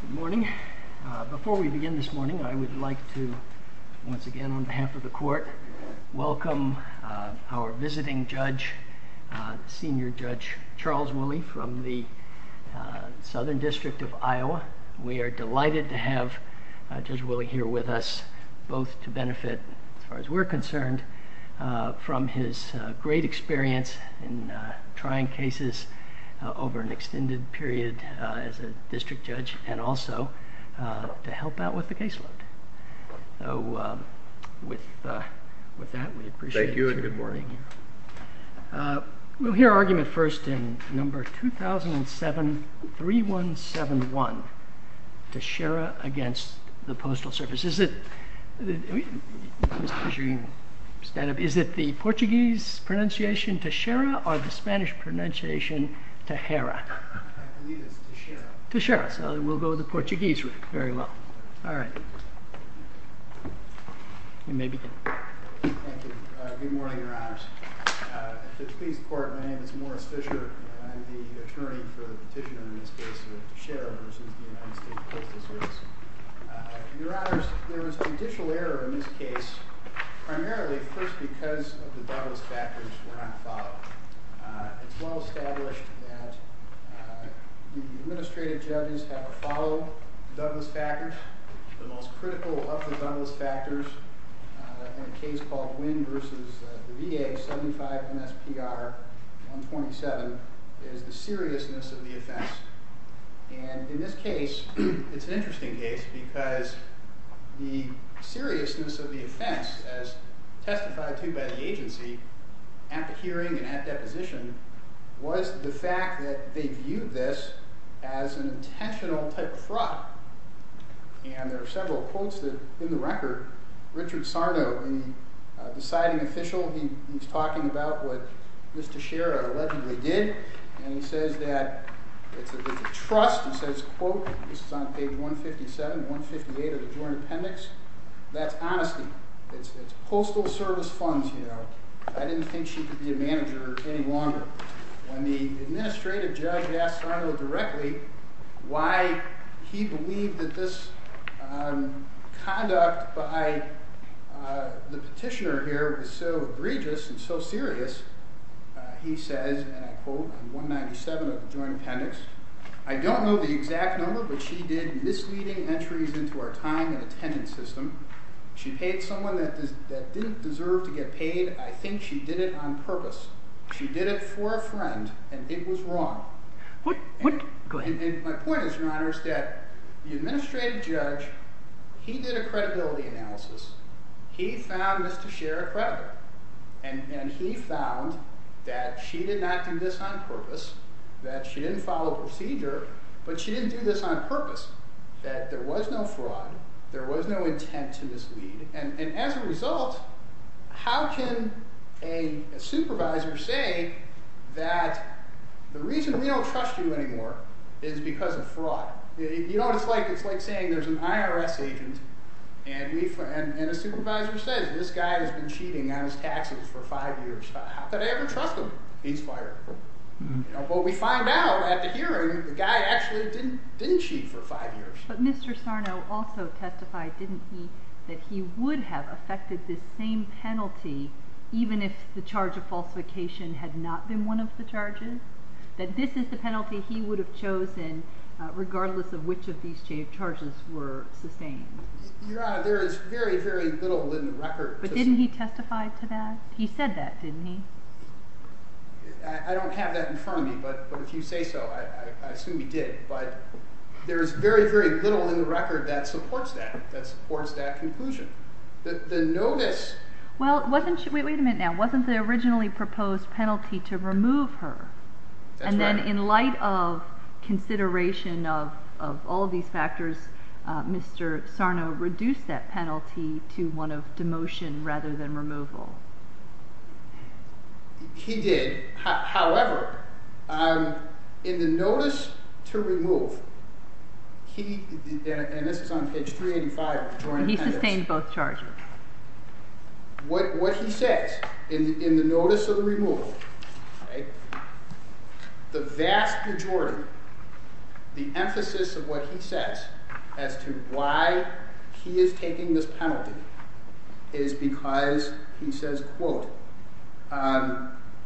Good morning. Before we begin this morning, I would like to once again, on behalf of the court, welcome our visiting judge, Senior Judge Charles Willie from the Southern District of Iowa. We are delighted to have Judge Willie here with us, both to benefit as far as we're concerned from his great experience in trying cases over an extended period as a district judge and also to help out with the caseload. So with that, we appreciate you being here. Thank you and good morning. We'll hear argument first in number 2007-3171, Teixeira against the Postal Service. Is it the Portuguese pronunciation Teixeira or the Spanish pronunciation Tejera? I believe it's Teixeira. Teixeira. So we'll go with the Portuguese very well. All right. You may begin. Thank you. Good morning, Your Honors. At the please court, my name is Morris Fisher. I'm the attorney for the petitioner in this case of Teixeira v. the Postal Service. In the case of Teixeira v. the Postal Service, there was judicial error in this case, primarily, of course, because of the Douglas factors were not followed. It's well established that the administrative judges have to follow Douglas factors. The most critical of the Douglas factors in a case called Wynn v. VA 75 MSPR 127 is the seriousness of the offense. And in this case, it's an The seriousness of the offense, as testified to by the agency, at the hearing and at deposition, was the fact that they viewed this as an intentional type of fraud. And there are several quotes that in the record, Richard Sarno, the deciding official, he's talking about what Mr. Shera allegedly did. And that's honesty. It's Postal Service funds. You know, I didn't think she could be a manager any longer. When the administrative judge asked Sarno directly why he believed that this conduct by the petitioner here was so egregious and so serious, he says, and I quote, 197 of the joint appendix. I don't know the exact number, but she did misleading entries into our time and tenant system. She paid someone that didn't deserve to get paid. I think she did it on purpose. She did it for a friend, and it was wrong. Go ahead. My point is, Your Honor, is that the administrative judge, he did a credibility analysis. He found Mr. Shera credible, and he found that she did not do this on purpose, that she didn't follow procedure, but she didn't do this on purpose, that there was no fraud, there was no intent to mislead. And as a result, how can a supervisor say that the reason we don't trust you anymore is because of fraud? You know what it's like? It's like saying there's an IRS agent, and a supervisor says, this guy has been cheating on his taxes for five years. How could I ever trust him? He's fired. But we find out at the hearing, the guy actually didn't cheat for five years. But Mr. Sarno also testified, didn't he, that he would have affected this same penalty, even if the charge of falsification had not been one of the charges? That this is the penalty he would have chosen, regardless of which of these charges were sustained? Your Honor, there is very, very little written record. But didn't he testify to that? He said that, didn't he? I don't know if you say so. I assume he did. But there's very, very little in the record that supports that, that supports that conclusion. The notice... Well, wasn't she... Wait a minute now. Wasn't the originally proposed penalty to remove her? That's right. And then in light of consideration of all of these factors, Mr. Sarno reduced that penalty to one of demotion rather than in the notice to remove, he... And this is on page 385. He sustained both charges. What he says in the notice of removal, the vast majority, the emphasis of what he says as to why he is taking the case.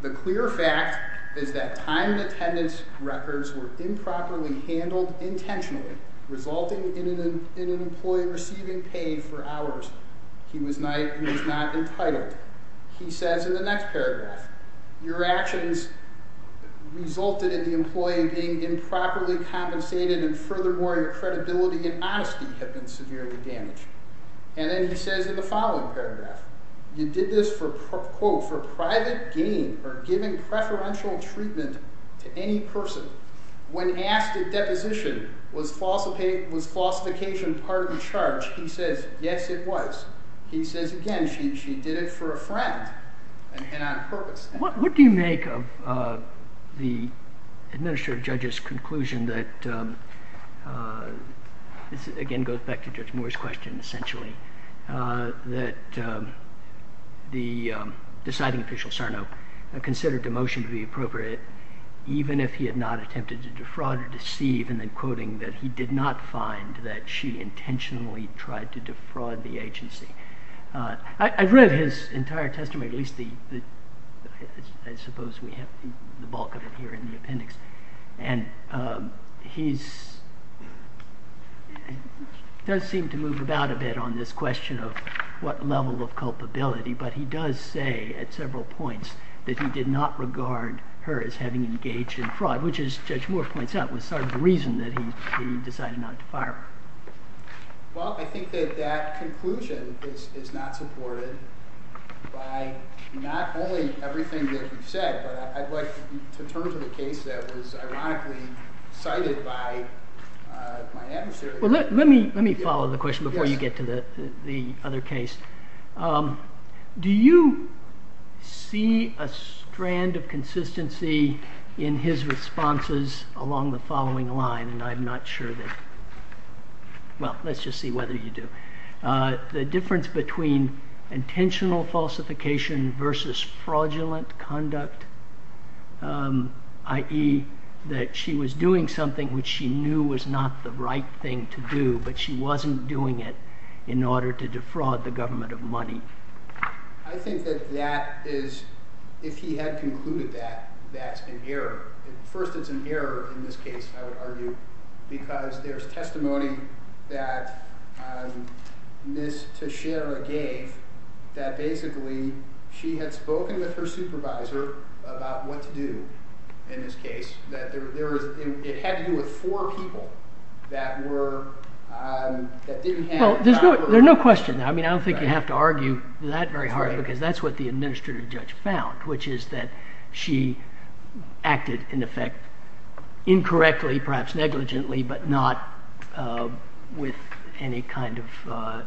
The clear fact is that time and attendance records were improperly handled intentionally, resulting in an employee receiving paid for hours. He was not entitled. He says in the next paragraph, your actions resulted in the employee being improperly compensated and furthermore, your credibility and honesty have been severely damaged. And then he says in the following paragraph, you did this for, quote, for private gain or giving preferential treatment to any person. When asked if deposition was falsification part of the charge, he says, yes, it was. He says, again, she did it for a friend and on purpose. What do you make of the administrative judge's conclusion that... This, again, goes back to Judge Moore's question, essentially, that the deciding official, Sarno, considered demotion to be appropriate even if he had not attempted to defraud or deceive and then quoting that he did not find that she intentionally tried to defraud the agency. I've read his entire testimony, at least the... I suppose we have the same... Does seem to move about a bit on this question of what level of culpability, but he does say at several points that he did not regard her as having engaged in fraud, which is, Judge Moore points out, was sort of the reason that he decided not to fire her. Well, I think that that conclusion is not supported by not only everything that you've said, but I'd like to turn to the case that was ironically cited by my adversary... Well, let me follow the question before you get to the other case. Do you see a strand of consistency in his responses along the following line, and I'm not sure that... Well, let's just see whether you do. The difference between intentional falsification versus fraudulent conduct, i.e. That she was doing something which she knew was not the right thing to do, but she wasn't doing it in order to defraud the government of money. I think that that is... If he had concluded that, that's an error. First, it's an error in this case, I would argue, because there's testimony that Ms. Teixeira gave that basically she had spoken with her supervisor about what to do in this case, that it had to do with four people that didn't have... Well, there's no question. I don't think you have to argue that very hard, because that's what the administrative judge found, which is that she acted, in effect, incorrectly, perhaps negligently, but not with any kind of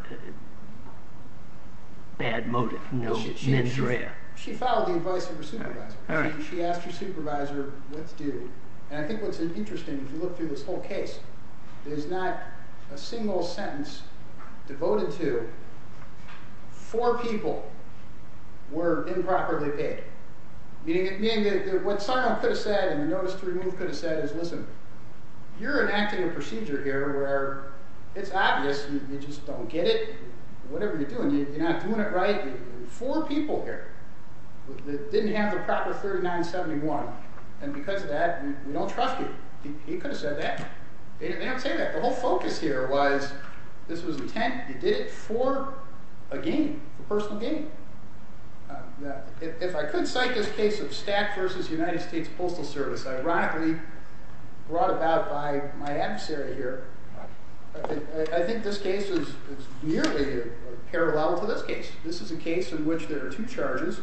bad motive, no mens rea. She followed the advice of her supervisor. She asked her supervisor, what to do. And I think what's interesting, if you look through this whole case, there's not a single sentence devoted to four people were improperly paid, meaning that what Sarno could have said and you notice to remove could have said is, listen, you're enacting a procedure here where it's obvious, you just don't get it, whatever you're doing, you're not doing it right. There were four people here that didn't have the proper 3971, and because of that, we don't trust you. He could have said that. They don't say that. The whole focus here was, this was intent, you did it for a gain, a personal gain. Now, if I could cite this case of Stack versus United States Postal Service, ironically, brought about by my adversary here, I think this case is nearly a parallel to this case. This is a case in which there are two charges.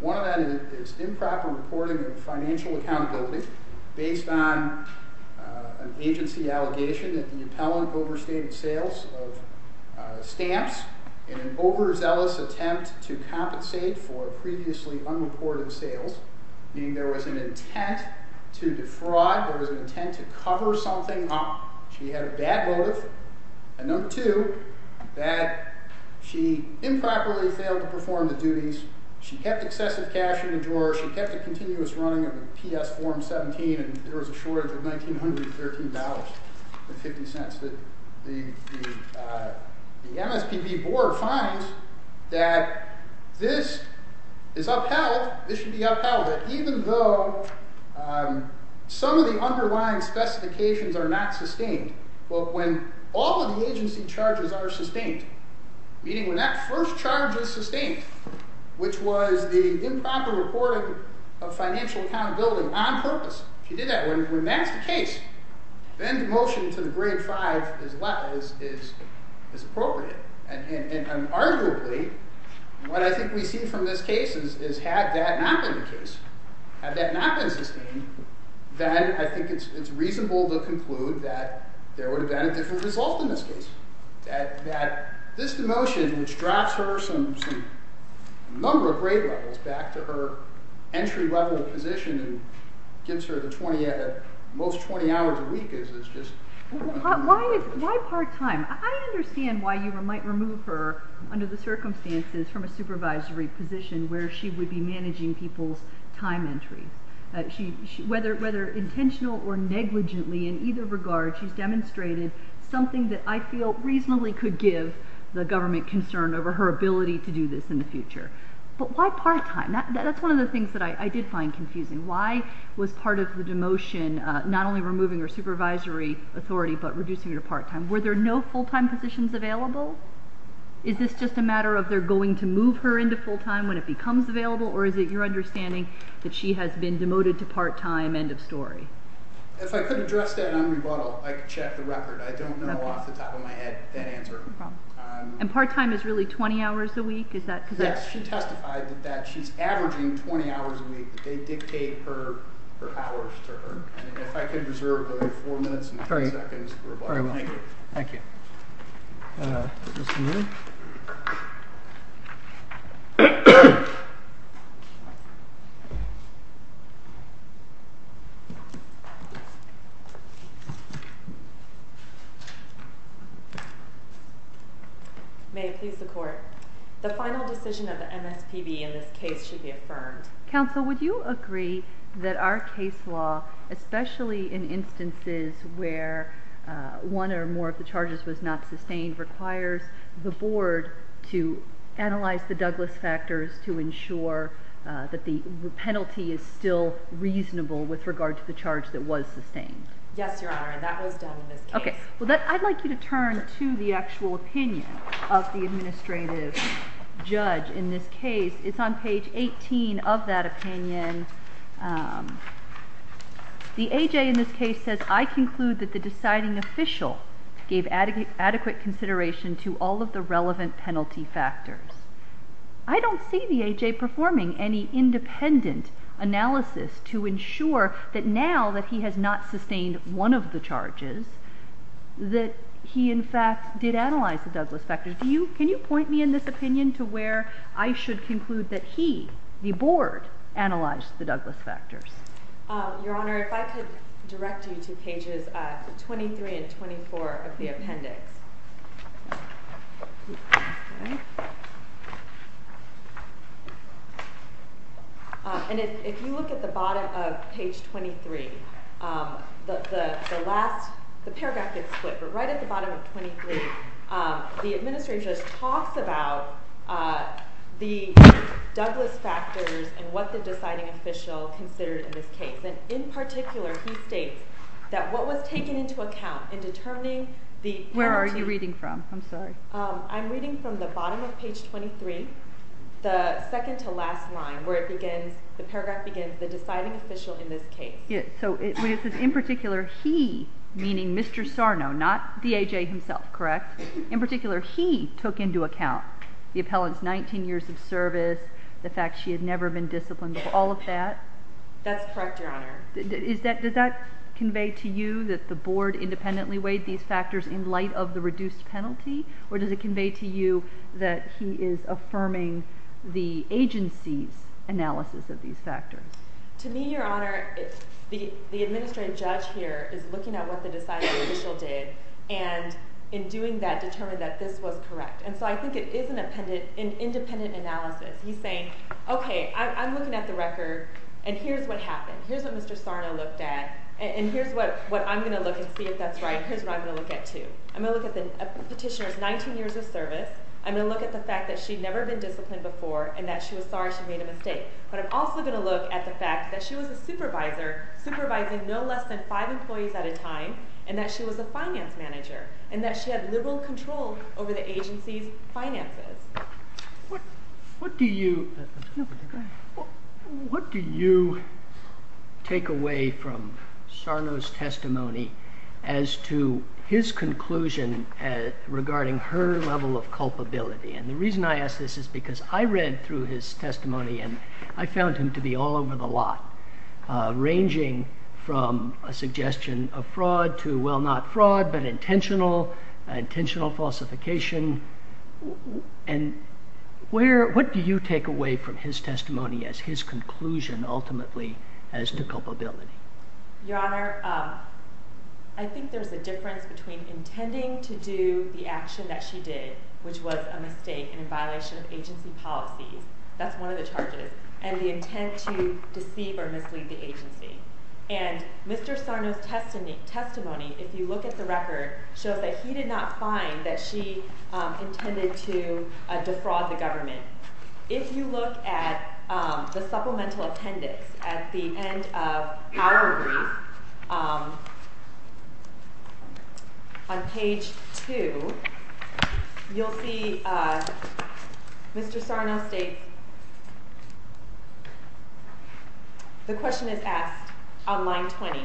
One of them is improper reporting of financial accountability based on an agency allegation that the appellant overstated sales of stamps in an overzealous attempt to compensate for previously unreported sales, meaning there was an intent to defraud, there was an intent to cover something up. She had a bad motive. And number two, bad, she improperly failed to perform the duties, she kept excessive cash in the drawer, she kept a continuous running of the PS form 17, and there was a shortage of $1,913.50. The MSPB board finds that this is upheld, this should be upheld, even though some of the underlying specifications are not sustained. Well, when all of the agency charges are sustained, meaning when that first charge is sustained, which was the improper reporting of financial accountability on purpose, she did that. When that's the case, then the motion to the grade five is appropriate. And arguably, what I think we see from this case is, had that not been the case, had that not been sustained, then I think it's reasonable to conclude that there would have been a different result in this case, that this motion, which drops her some number of grade levels back to her entry level position and gives her the 20, at most 20 hours a week, is just... Why part time? I understand why you might remove her under the circumstances from a supervisory position where she would be managing people's time entry. Whether intentional or negligently in either regard, she's demonstrated something that I feel reasonably could give the government concern over her ability to do this in the future. But why part time? That's one of the things that I did find confusing. Why was part of the demotion not only removing her supervisory authority, but reducing her to part time? Were there no full time positions available? Is this just a matter of they're going to move her into full time when it becomes available, or is it your understanding that she has been demoted to part time, end of story? If I could address that on rebuttal, I could check the record. I don't know off the top of my head. Yes, she testified that she's averaging 20 hours a week, but they dictate her hours to her. And if I could reserve the four minutes and 10 seconds for rebuttal. Thank you. Thank you. Thank you. May it please the court. The final decision of the MSPB in this case should be affirmed. Counsel, would you agree that our case law, especially in instances where one or more of the charges was not sustained, requires the board to analyze the Douglas factors to ensure that the penalty is still reasonable with regard to the charge that was sustained? Yes, Your Honor. That was done in this case. Okay. Well, I'd like you to turn to the actual opinion of the administrative judge in this case. It's on page 18 of that opinion. The AJ in this case says, I conclude that the deciding official gave adequate consideration to all of the relevant penalty factors. I don't see the AJ performing any independent analysis to ensure that now that he has not sustained one of the charges, that he, in fact, did analyze the Douglas factors. Can you point me in this opinion to where I should conclude that he, the board, analyzed the Douglas factors? Your Honor, if I could direct you to pages 23 and 24 of the appendix. And if you look at the bottom of page 23, the last... The paragraph gets split, but right at the bottom of 23, the administrative judge talks about the Douglas factors and what the deciding official considered in this case. And in particular, he states that what was taken into account in determining the penalty... Where are you reading from? I'm sorry. I'm reading from the bottom of page 23, the second to last line, where it begins... The paragraph begins, the deciding official in this case. Yeah. So it says, in particular, he, meaning Mr. Sarno, not the AJ himself, correct? In particular, he took into account the appellant's 19 years of service, the fact she had never been disciplined before, all of that? That's correct, Your Honor. Does that convey to you that the board independently weighed these factors in light of the reduced penalty? Or does it convey to you that he is affirming the agency's analysis of these factors? To me, Your Honor, the administrative judge here is looking at what the deciding official did, and in doing that, determined that this was correct. And so I think it is an independent analysis. He's saying, okay, I'm looking at the record, and here's what happened. Here's what Mr. Sarno looked at, and here's what I'm gonna look and see if that's right. Here's what I'm gonna look at too. I'm gonna look at the petitioner's 19 years of service. I'm gonna look at the fact that she'd never been disciplined before, and that she was sorry she made a mistake. But I'm also gonna look at the fact that she was a supervisor, supervising no less than five employees at a time, and that she was a finance manager, and that she had liberal control over the agency's finances. What do you... What do you take away from Sarno's testimony as to his conclusion regarding her level of culpability? And the reason I ask this is because I read through his testimony, and I found him to be all over the lot, ranging from a suggestion of fraud to, well, not fraud, but intentional, intentional falsification. And what do you take away from his testimony as his conclusion, ultimately, as to culpability? Your Honor, I think there's a difference between intending to do the action that she did, which was a mistake and in violation of agency policies. That's one of the charges, and the intent to deceive or mislead the record shows that he did not find that she intended to defraud the government. If you look at the supplemental appendix at the end of our brief, on page two, you'll see Mr. Sarno states... The question is asked on line 20,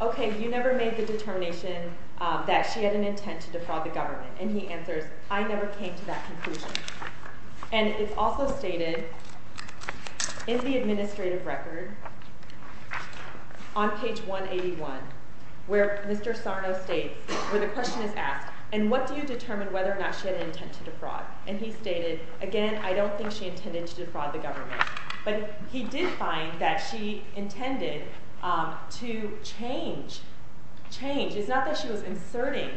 okay, you never made the determination that she had an intent to defraud the government, and he answers, I never came to that conclusion. And it's also stated in the administrative record on page 181, where Mr. Sarno states, where the question is asked, and what do you determine whether or not she had an intent to defraud? And he stated, again, I don't think she intended to defraud the government. She intended to change, change. It's not that she was inserting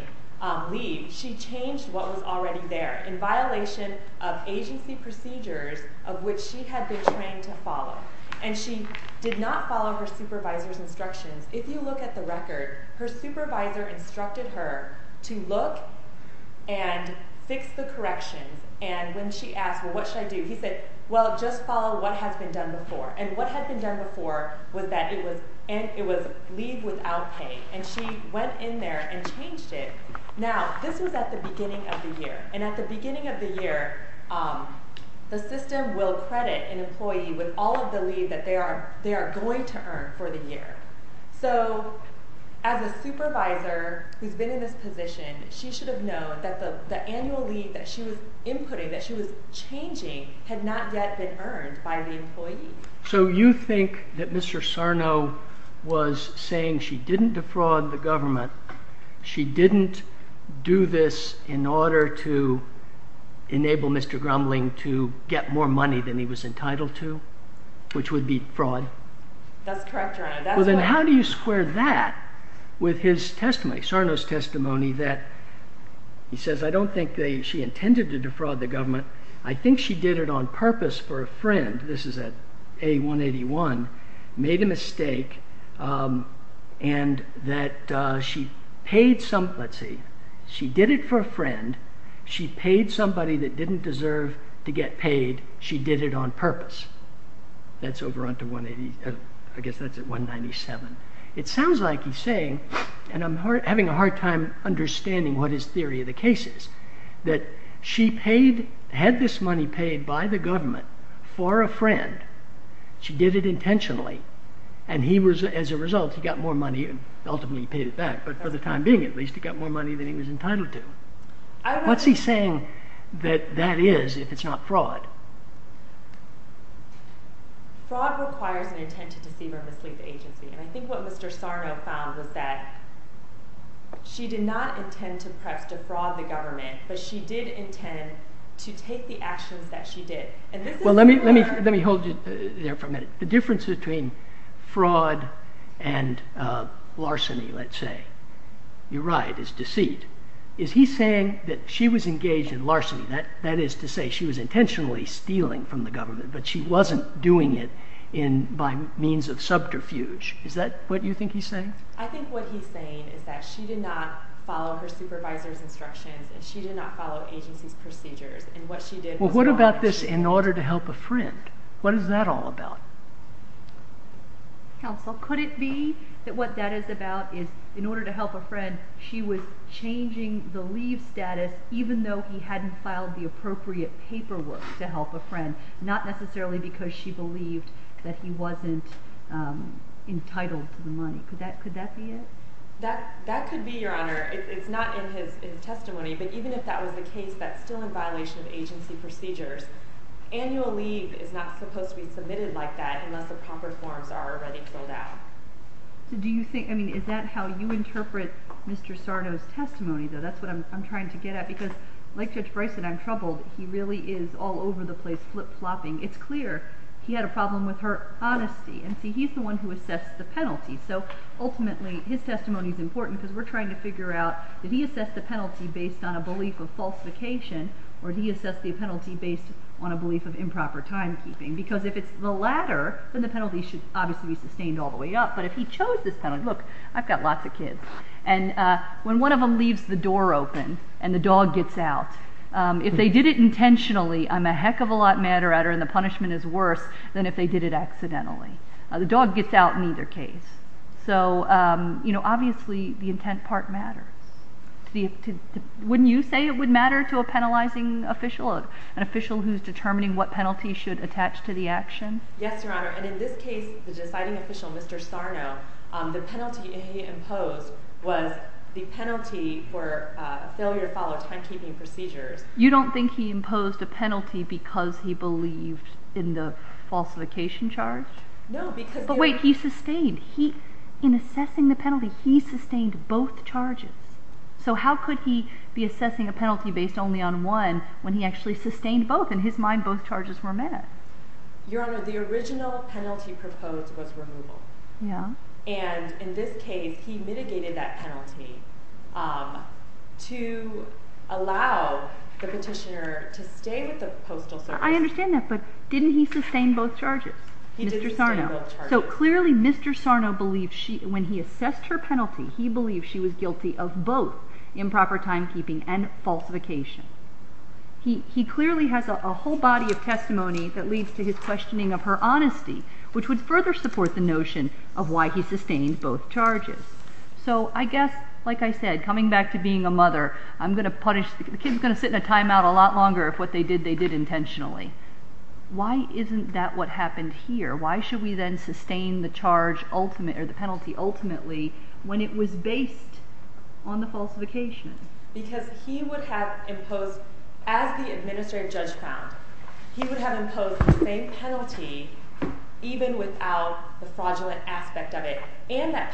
leave, she changed what was already there in violation of agency procedures of which she had been trained to follow, and she did not follow her supervisor's instructions. If you look at the record, her supervisor instructed her to look and fix the corrections, and when she asked, well, what should I do? He said, well, just follow what has been done before, and what had been done before was that it was leave without pay, and she went in there and changed it. Now, this was at the beginning of the year, and at the beginning of the year, the system will credit an employee with all of the leave that they are going to earn for the year. So, as a supervisor who's been in this position, she should have known that the annual leave that she was inputting, that she was changing, had not yet been earned by the employee. So, you think that Mr. Sarno was saying she didn't defraud the government, she didn't do this in order to enable Mr. Grumling to get more money than he was entitled to, which would be fraud? That's correct, Your Honor. Well, then how do you square that with his testimony, Sarno's testimony that, he says, I don't think she intended to defraud the government, I think she did it on purpose for a friend, this is at A181, made a mistake, and that she paid some, let's see, she did it for a friend, she paid somebody that didn't deserve to get paid, she did it on purpose. That's over onto 180, I guess that's at 197. It sounds like he's saying, and I'm having a hard time understanding what his theory of the case is, that she had this money paid by the government for a friend, she did it intentionally, and as a result, he got more money and ultimately he paid it back, but for the time being, at least he got more money than he was entitled to. What's he saying that that is, if it's not fraud? Fraud requires an intent to deceive or mislead the agency, and I think what Mr. Sarno found was that she did not intend to perhaps defraud the government, but she did intend to take the actions that she did. Well, let me hold you there for a minute. The difference between fraud and larceny, let's say. You're right, it's deceit. Is he saying that she was engaged in larceny, that is to say she was intentionally stealing from the government, but she wasn't doing it by means of subterfuge? Is that what you think he's saying? I think what he's saying is that she did not follow her supervisor's instructions and she did not follow agency's procedures, and what she did was... Well, what about this in order to help a friend? What is that all about? Counsel, could it be that what that is about is in order to help a friend, she was changing the leave status even though he hadn't filed the appropriate paperwork to help a friend, not necessarily because she believed that he wasn't entitled to the money. Could that be it? That could be, Your Honor. It's not in his testimony, but even if that was the case that's still in violation of agency procedures, annual leave is not supposed to be submitted like that unless the proper forms are already filled out. Do you think... Is that how you interpret Mr. Sarno's testimony though? That's what I'm trying to get at, because like Judge Bryce said, I'm troubled. He really is all over the place, flip flopping. It's clear he had a problem with her honesty, and see, he's the one who assessed the penalty. So ultimately, his testimony is important because we're trying to figure out, did he assess the penalty based on a belief of falsification, or did he assess the penalty based on a belief of improper timekeeping? Because if it's the latter, then the penalty should obviously be sustained all the way up, but if he chose this penalty... Look, I've got lots of kids, and when one of them leaves the door open and the dog gets out, if they did it intentionally, I'm a heck of a lot madder at her, and the punishment is worse than if they did it accidentally. The dog gets out in either case. So obviously, the intent part matters. Wouldn't you say it would matter to a penalizing official, an official who's determining what penalty should attach to the action? Yes, Your Honor, and in this case, the deciding official, Mr. Sarno, the penalty he imposed was the penalty for failure to follow timekeeping procedures. You don't think he imposed a penalty because he believed in the falsification charge? No, because... But wait, he sustained... In assessing the penalty, he sustained both charges. So how could he be assessing a penalty based only on one, when he actually sustained both? In his mind, both charges were met. Your Honor, the original penalty proposed was removal. Yeah. And in this case, he mitigated that penalty to allow the petitioner to stay with the Postal Service. I understand that, but didn't he sustain both charges? He did sustain both charges. So clearly, Mr. Sarno believed she... When he assessed her penalty, he believed she was guilty of both improper timekeeping and falsification. He clearly has a whole body of testimony that leads to his questioning of her honesty, which would further support the notion of why he sustained both charges. So I guess, like I said, coming back to being a mother, I'm gonna punish... The kid's gonna sit in a time out a lot longer if what they did, they did intentionally. Why isn't that what happened here? Why should we then sustain the charge ultimate, or the penalty ultimately, when it was based on the falsification? Because he would have imposed, as the administrative judge found, he would have imposed the same penalty even without the fraudulent aspect of it, and that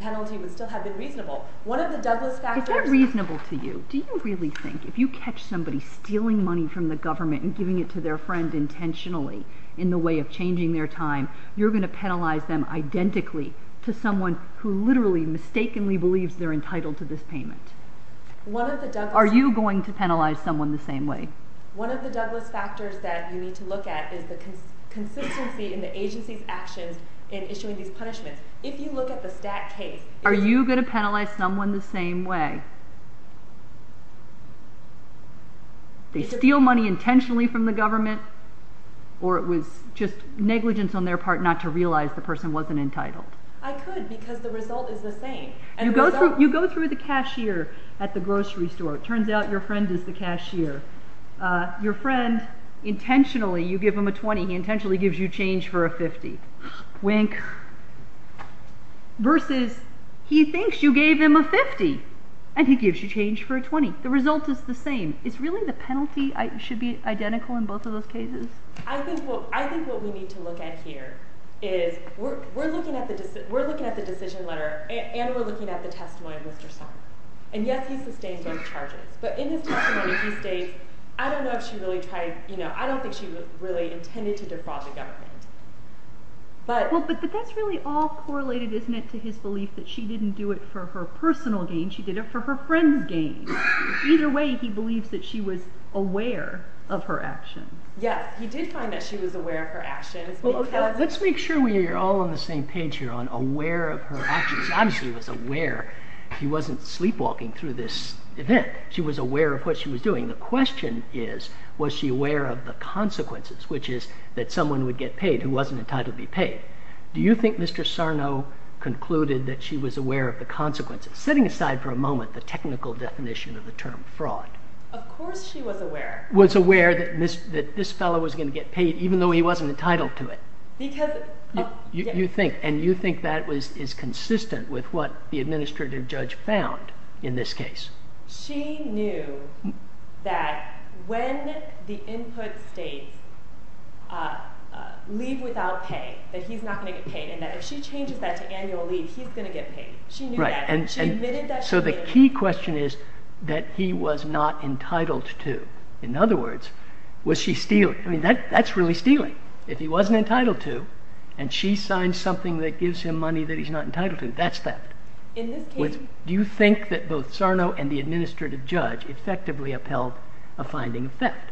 penalty would still have been reasonable. One of the Douglas factors... Is that reasonable to you? Do you really think if you catch somebody stealing money from the government and giving it to their friend intentionally in the way of changing their time, you're gonna penalize them identically to someone who literally mistakenly believes they're entitled to this payment? One of the Douglas... Are you going to penalize someone the same way? One of the Douglas factors that you need to look at is the consistency in the agency's actions in issuing these punishments. If you look at the stack case... Are you gonna penalize someone the same way? They steal money intentionally from the government, or it was just negligence on their part not to realize the person wasn't entitled? I could, because the result is the same. You go through the cashier at the grocery store. It turns out your friend is the cashier. Your friend, intentionally, you give him a 20, he intentionally gives you change for a 50. Wink. Versus he thinks you gave him a 50, and he gives you change for a 20. The result is the same. Is really the penalty should be identical in both of those cases? I think what we need to look at here is we're looking at the decision letter, and we're looking at the testimony of Mr. Song. And yes, he sustained both charges, but in his testimony, he states, I don't know if she really tried... Well, but that's really all correlated, isn't it, to his belief that she didn't do it for her personal gain, she did it for her friend's gain. Either way, he believes that she was aware of her action. Yes, he did find that she was aware of her actions. Let's make sure we're all on the same page here on aware of her actions. Obviously, he was aware. He wasn't sleepwalking through this event. She was aware of what she was doing. The question is, was she aware of the consequences, which is that someone would get paid who wasn't entitled to be paid? Do you think Mr. Sarno concluded that she was aware of the consequences? Setting aside for a moment the technical definition of the term fraud. Of course she was aware. Was aware that this fellow was gonna get paid, even though he wasn't entitled to it. Because... You think, and you think that is consistent with what the input states, leave without pay, that he's not gonna get paid, and that if she changes that to annual leave, he's gonna get paid. She knew that. And she admitted that... So the key question is that he was not entitled to. In other words, was she stealing? That's really stealing. If he wasn't entitled to, and she signed something that gives him money that he's not entitled to, that's theft. In this case... Do you think that both Sarno and the administrative judge effectively upheld a finding of theft?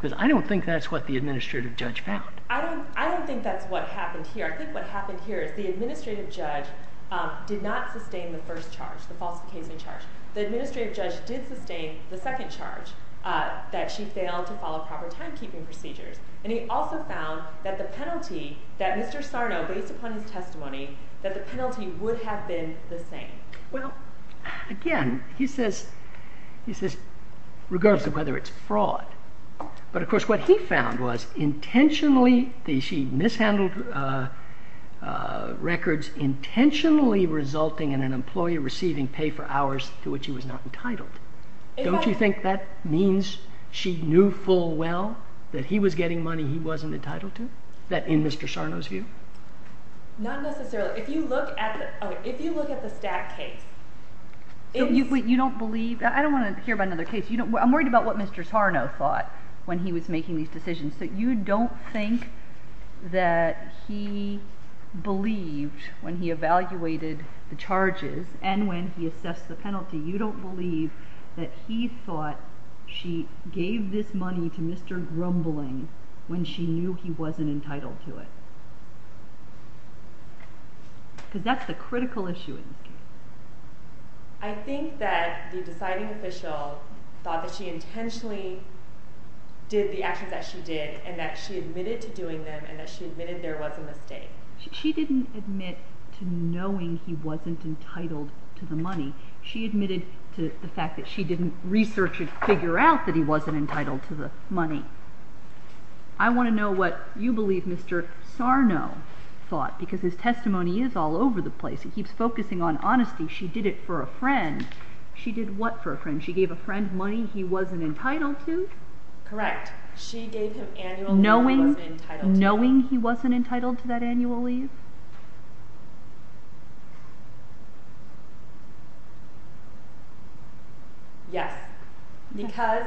Because I don't think that's what the administrative judge found. I don't think that's what happened here. I think what happened here is the administrative judge did not sustain the first charge, the false occasion charge. The administrative judge did sustain the second charge, that she failed to follow proper timekeeping procedures. And he also found that the penalty that Mr. Sarno, based upon his testimony, that the penalty would have been the same. Well, again, he says, regardless of whether it's fraud, but of course, what he found was intentionally she mishandled records intentionally resulting in an employee receiving pay for hours to which he was not entitled. Don't you think that means she knew full well that he was getting money he wasn't entitled to? That in Mr. Sarno's view? Not necessarily. If you look at... If you look at the stack case... You don't believe... I don't wanna hear about another case. I'm worried about what Mr. Sarno thought when he was making these decisions. So you don't think that he believed when he evaluated the charges and when he assessed the penalty, you don't believe that he thought she gave this money to Mr. Grumbling when she knew he wasn't entitled to it? Because that's the critical issue in this case. I think that the deciding official thought that she intentionally did the actions that she did and that she admitted to doing them and that she admitted there was a mistake. She didn't admit to knowing he wasn't entitled to the money. She admitted to the fact that she didn't research and figure out that he wasn't entitled to the money. I wanna know what you believe Mr. Sarno thought, because his testimony is all over the place. He keeps focusing on honesty. She did it for a friend. She did what for a friend? She gave a friend money he wasn't entitled to? Correct. She gave him annual leave... Knowing he wasn't entitled to that annual leave? Yes. Because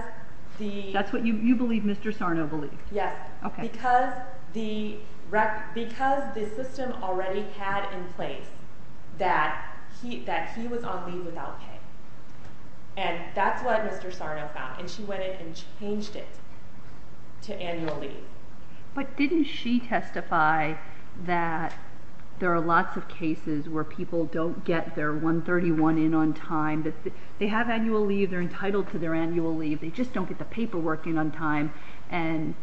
the... That's what you believe Mr. Sarno believed? Yes. Okay. Because the system already had in place that he was on leave without pay. And that's what Mr. Sarno found. And she went in and changed it to annual leave. But didn't she testify that there are lots of cases where people don't get their 131 in on time? They have annual leave, they're entitled to their annual leave, they just don't get the paperwork in on time and...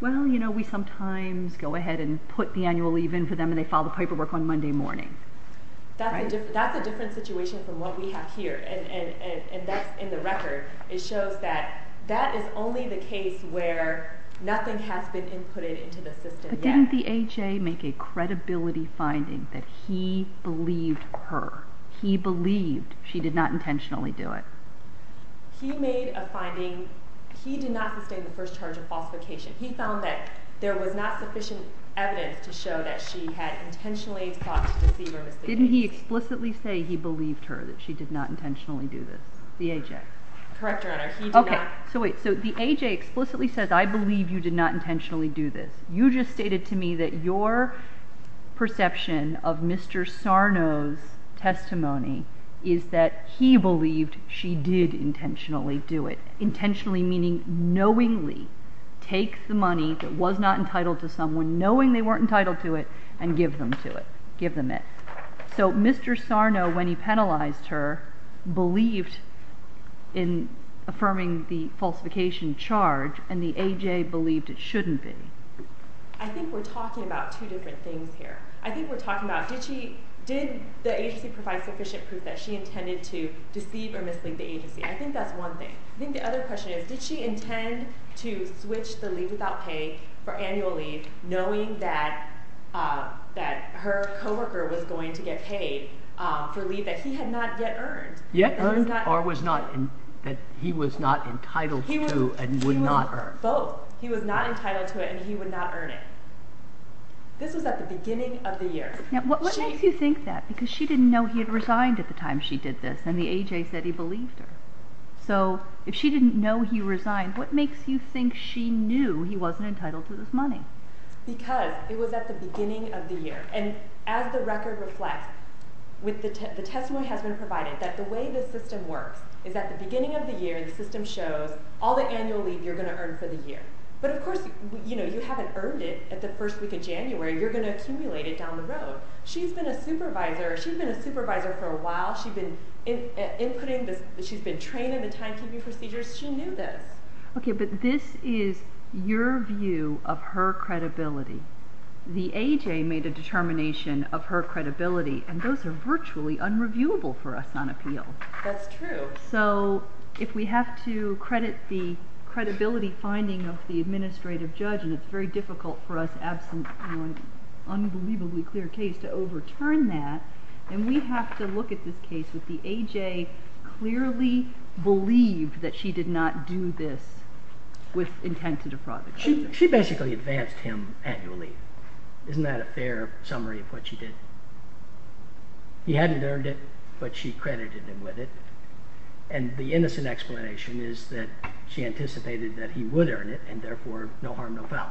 Well, we sometimes go ahead and put the annual leave in for them and they file the paperwork on Monday morning. That's a different situation from what we have here and that's in the only the case where nothing has been inputted into the system yet. But didn't the AJ make a credibility finding that he believed her? He believed she did not intentionally do it? He made a finding. He did not sustain the first charge of falsification. He found that there was not sufficient evidence to show that she had intentionally thought to deceive her... Didn't he explicitly say he believed her that she did not intentionally do this? The AJ. Correct, Your Honor, he did not... Okay, so wait. So the AJ explicitly says, I believe you did not intentionally do this. You just stated to me that your perception of Mr. Sarno's testimony is that he believed she did intentionally do it. Intentionally meaning knowingly take the money that was not entitled to someone, knowing they weren't entitled to it, and give them to it, give them it. So Mr. Sarno, when he penalized her, believed in affirming the falsification charge and the AJ believed it shouldn't be. I think we're talking about two different things here. I think we're talking about, did she... Did the agency provide sufficient proof that she intended to deceive or mislead the agency? I think that's one thing. I think the other question is, did she intend to switch the leave without pay for annual leave, knowing that her co worker was going to get paid for leave that he had not yet earned. Yet earned or was not... That he was not entitled to and would not earn. Both. He was not entitled to it and he would not earn it. This was at the beginning of the year. Now, what makes you think that? Because she didn't know he had resigned at the time she did this and the AJ said he believed her. So if she didn't know he resigned, what makes you think she knew he wasn't entitled to this money? Because it was at the beginning of the year. And as the record reflects, the testimony has been provided that the way the system works is that the beginning of the year, the system shows all the annual leave you're gonna earn for the year. But of course, you haven't earned it at the first week of January, you're gonna accumulate it down the road. She's been a supervisor. She's been a supervisor for a while. She's been inputting this... She's been trained in the time keeping procedures. She knew this. Okay, but this is your view of her credibility. The AJ made a determination of her credibility and those are virtually unreviewable for us on appeal. That's true. So if we have to credit the credibility finding of the administrative judge, and it's very difficult for us absent an unbelievably clear case to overturn that, then we have to look at this case with the AJ clearly believed that she did not do this with intent to defraud. She basically advanced him annually. Isn't that a fair summary of what she did? He hadn't earned it, but she credited him with it. And the innocent explanation is that she anticipated that he would earn it and therefore, no harm, no foul.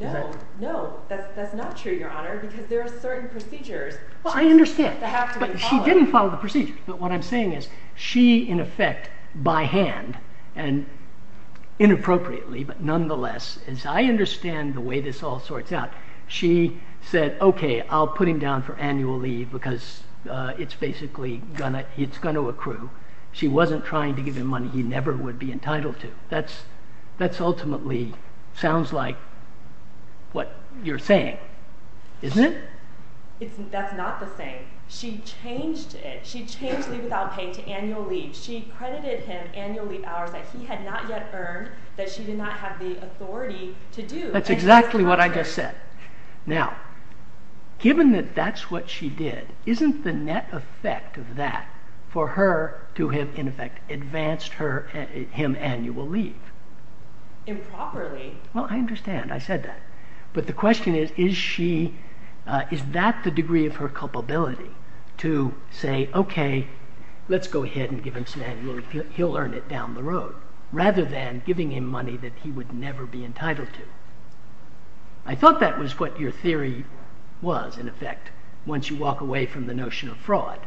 No, no, that's not true, Your Honor, because there are certain procedures... I understand, but she in effect, by hand and inappropriately, but nonetheless, as I understand the way this all sorts out, she said, Okay, I'll put him down for annual leave because it's basically gonna... It's gonna accrue. She wasn't trying to give him money he never would be entitled to. That's ultimately sounds like what you're saying, isn't it? That's not the thing. She changed it. She changed leave without paying to annual leave. She credited him annual leave hours that he had not yet earned, that she did not have the authority to do. That's exactly what I just said. Now, given that that's what she did, isn't the net effect of that for her to have, in effect, advanced him annual leave? Improperly. Well, I understand. I said that. But the question is, is she... Is that the degree of her culpability to say, Okay, let's go ahead and give him some annual leave. He'll earn it down the road, rather than giving him money that he would never be entitled to. I thought that was what your theory was, in effect, once you walk away from the notion of fraud.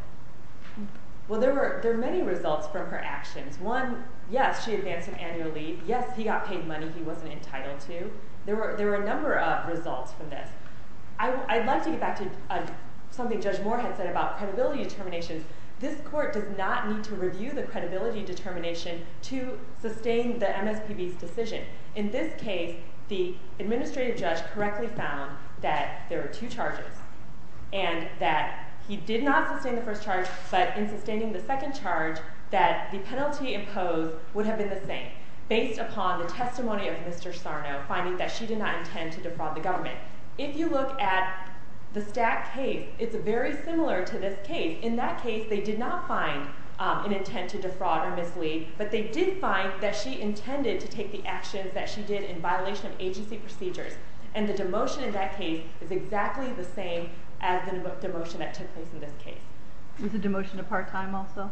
Well, there are many results from her actions. One, yes, she advanced him annual leave. Yes, he got paid money he wasn't entitled to. There were a number of results from this. I'd like to get back to something Judge Moore had said about credibility determinations. This court does not need to review the credibility determination to sustain the MSPB's decision. In this case, the administrative judge correctly found that there were two charges, and that he did not sustain the first charge, but in sustaining the second charge, that the penalty imposed would have been the same, based upon the testimony of Mr. Sarno, finding that she did not intend to defraud the government. If you look at the Stack case, it's very similar to this case. In that case, they did not find an intent to defraud or mislead, but they did find that she intended to take the actions that she did in violation of agency procedures, and the demotion in that case is exactly the same as the demotion that took place in this case. Was the demotion a part time also?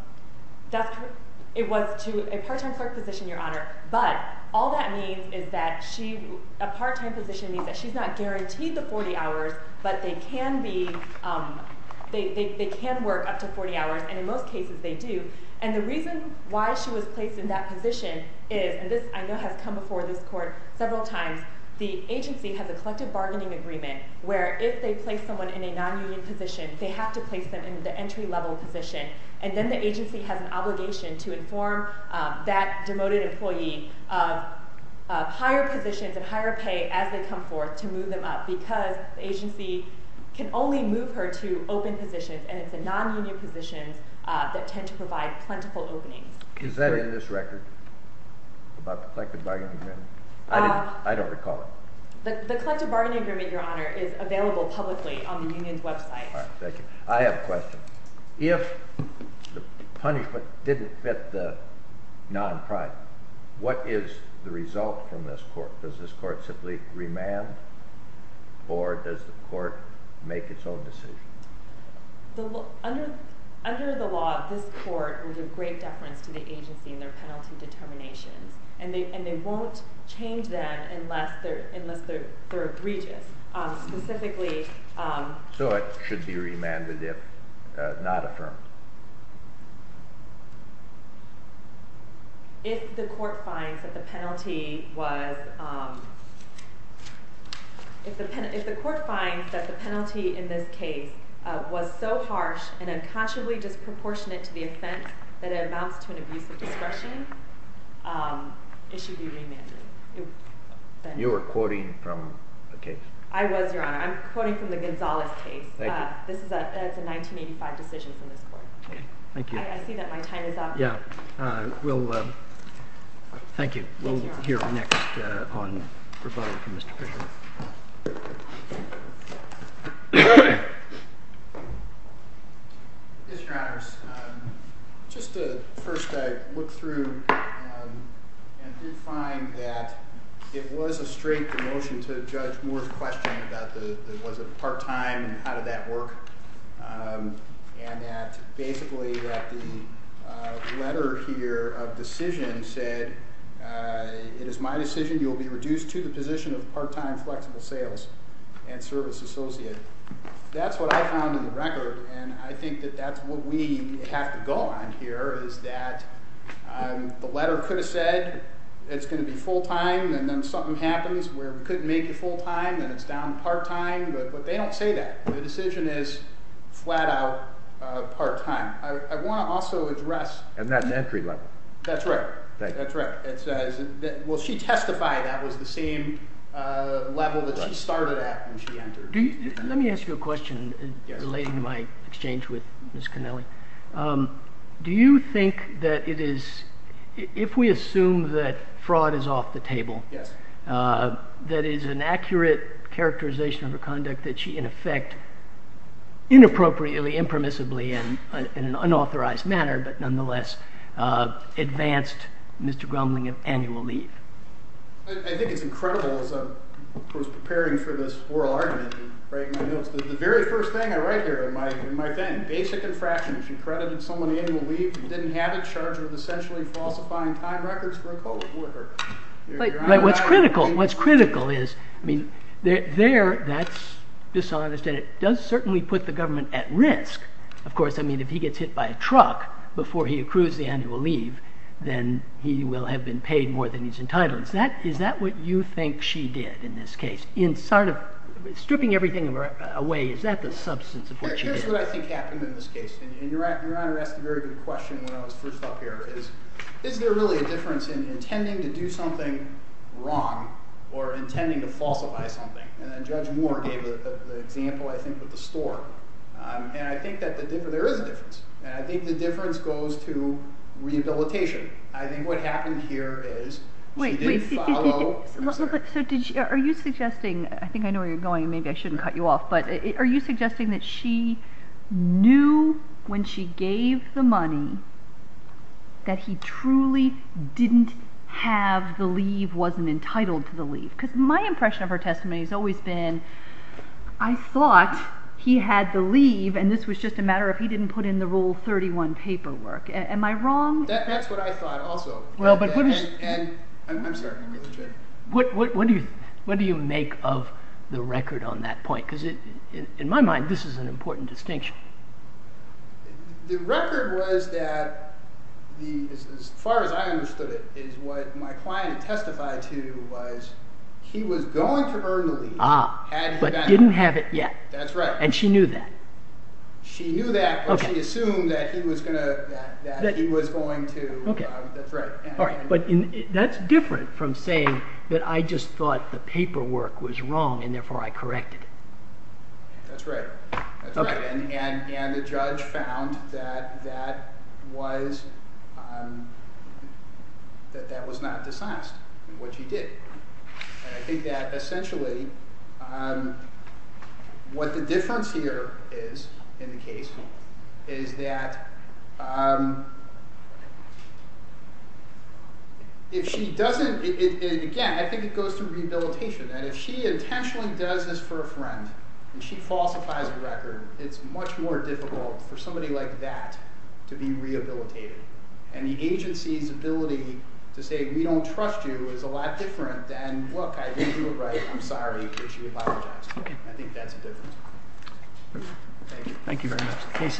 That's correct. It was to a part time clerk position, Your Honor, but all that means is that she... A part time position means that she's not guaranteed the 40 hours, but they can be... They can work up to 40 hours, and in most cases, they do. And the reason why she was placed in that position is, and this, I know, has come before this court several times, the agency has a collective bargaining agreement, where if they place someone in a non union position, they have to place them in the entry level position, and then the agency has an obligation to inform that demoted employee of higher positions and higher pay as they come forth to move them up, because the agency can only move her to open positions, and it's the non union positions that tend to provide plentiful openings. Is that in this record? About the collective bargaining agreement? I don't recall it. The collective bargaining agreement, Your Honor, is available publicly on the website. Thank you. I have a question. If the punishment didn't fit the non crime, what is the result from this court? Does this court simply remand, or does the court make its own decision? Under the law, this court will give great deference to the agency in their penalty determinations, and they won't change that unless they're egregious. Specifically, so it should be remanded if not affirmed. If the court finds that the penalty was... If the court finds that the penalty in this case was so harsh and unconsciously disproportionate to the offense that it amounts to an abuse of discretion, it should be remanded. You were quoting from the case? I was, Your Honor. I'm quoting from the Gonzales case. This is a 1985 decision from this court. Thank you. I see that my time is up. Yeah. We'll... Thank you. We'll hear next on rebuttal from Mr. Fisher. Yes, Your Honors. Just to... First, I looked through and did find that it was a straight demotion to Judge Moore's question about the... Was it part time and how did that work? And that basically that the letter here of decision said, it is my decision, you'll be reduced to the position of part time flexible sales and service associate. That's what I found in the record, and I think that that's what we have to go on here is that the letter could have said, it's gonna be full time and then something happens where we couldn't make it full time and it's down to part time, but they don't say that. The decision is flat out part time. I wanna also address... And that's entry level. That's right. Thank you. That's right. It says... Well, she testified that was the same level that she started at when she entered. Let me ask you a question relating to my exchange with Ms. Connelly. Do you think that it is... If we assume that fraud is off the table... Yes. That is an accurate characterization of her conduct that she in effect, inappropriately, impermissibly, and in an unauthorized manner, but nonetheless, advanced Mr. Grumling of annual leave. I think it's incredible as I was preparing for this oral argument and writing my notes that the very first thing I write here in my thing, basic infraction, if you credited someone annual leave and didn't have it, charge her with essentially falsifying time records for a code of order. What's critical, what's critical is... There, that's dishonest and it does certainly put the government at risk. Of course, if he gets hit by a truck before he accrues the annual leave, then he will have been paid more than he's entitled. Is that what you think she did in this case? In sort of stripping everything away, is that the substance of what she did? Here's what I think happened in this case. And Your Honor asked a very good question when I was first up here, is, is there really a difference in intending to do something wrong or intending to falsify something? And then Judge Moore gave the example, I think, with the store. And I think that there is a difference. And I think the difference goes to rehabilitation. I think what happened here is she didn't follow... Wait, wait. So are you suggesting... I think I know where you're going, maybe I shouldn't cut you off, but are you suggesting that she knew when she gave the money that he truly didn't have the leave, wasn't entitled to the leave? Because my impression of her testimony has always been, I thought he had the leave and this was just a matter of he didn't put in the Rule 31 paperwork. Am I wrong? That's what I thought also. Well, but what is... And I'm sorry, I'm really sorry. What do you make of the record on that point? Because in my mind, this is an important distinction. The record was that, as far as I understood it, is what my client testified to was he was going to earn the leave... Ah, but didn't have it yet. That's right. And she knew that. She knew that, but she assumed that he was going to... That's right. But that's different from saying that I just thought the paperwork was wrong and therefore I corrected it. That's right. That's right. And the judge found that that was not dishonest in what she did. And I think that essentially what the difference here is in the case is that if she doesn't... Again, I think it goes to rehabilitation. And if she intentionally does this for a friend and she falsifies a record, it's much more difficult for somebody like that to be rehabilitated. And the agency's ability to say, we don't trust you, is a lot different than, look, I didn't do it right, I'm sorry, but she apologized. I think that's a difference. Thank you. Thank you very much. The case is submitted.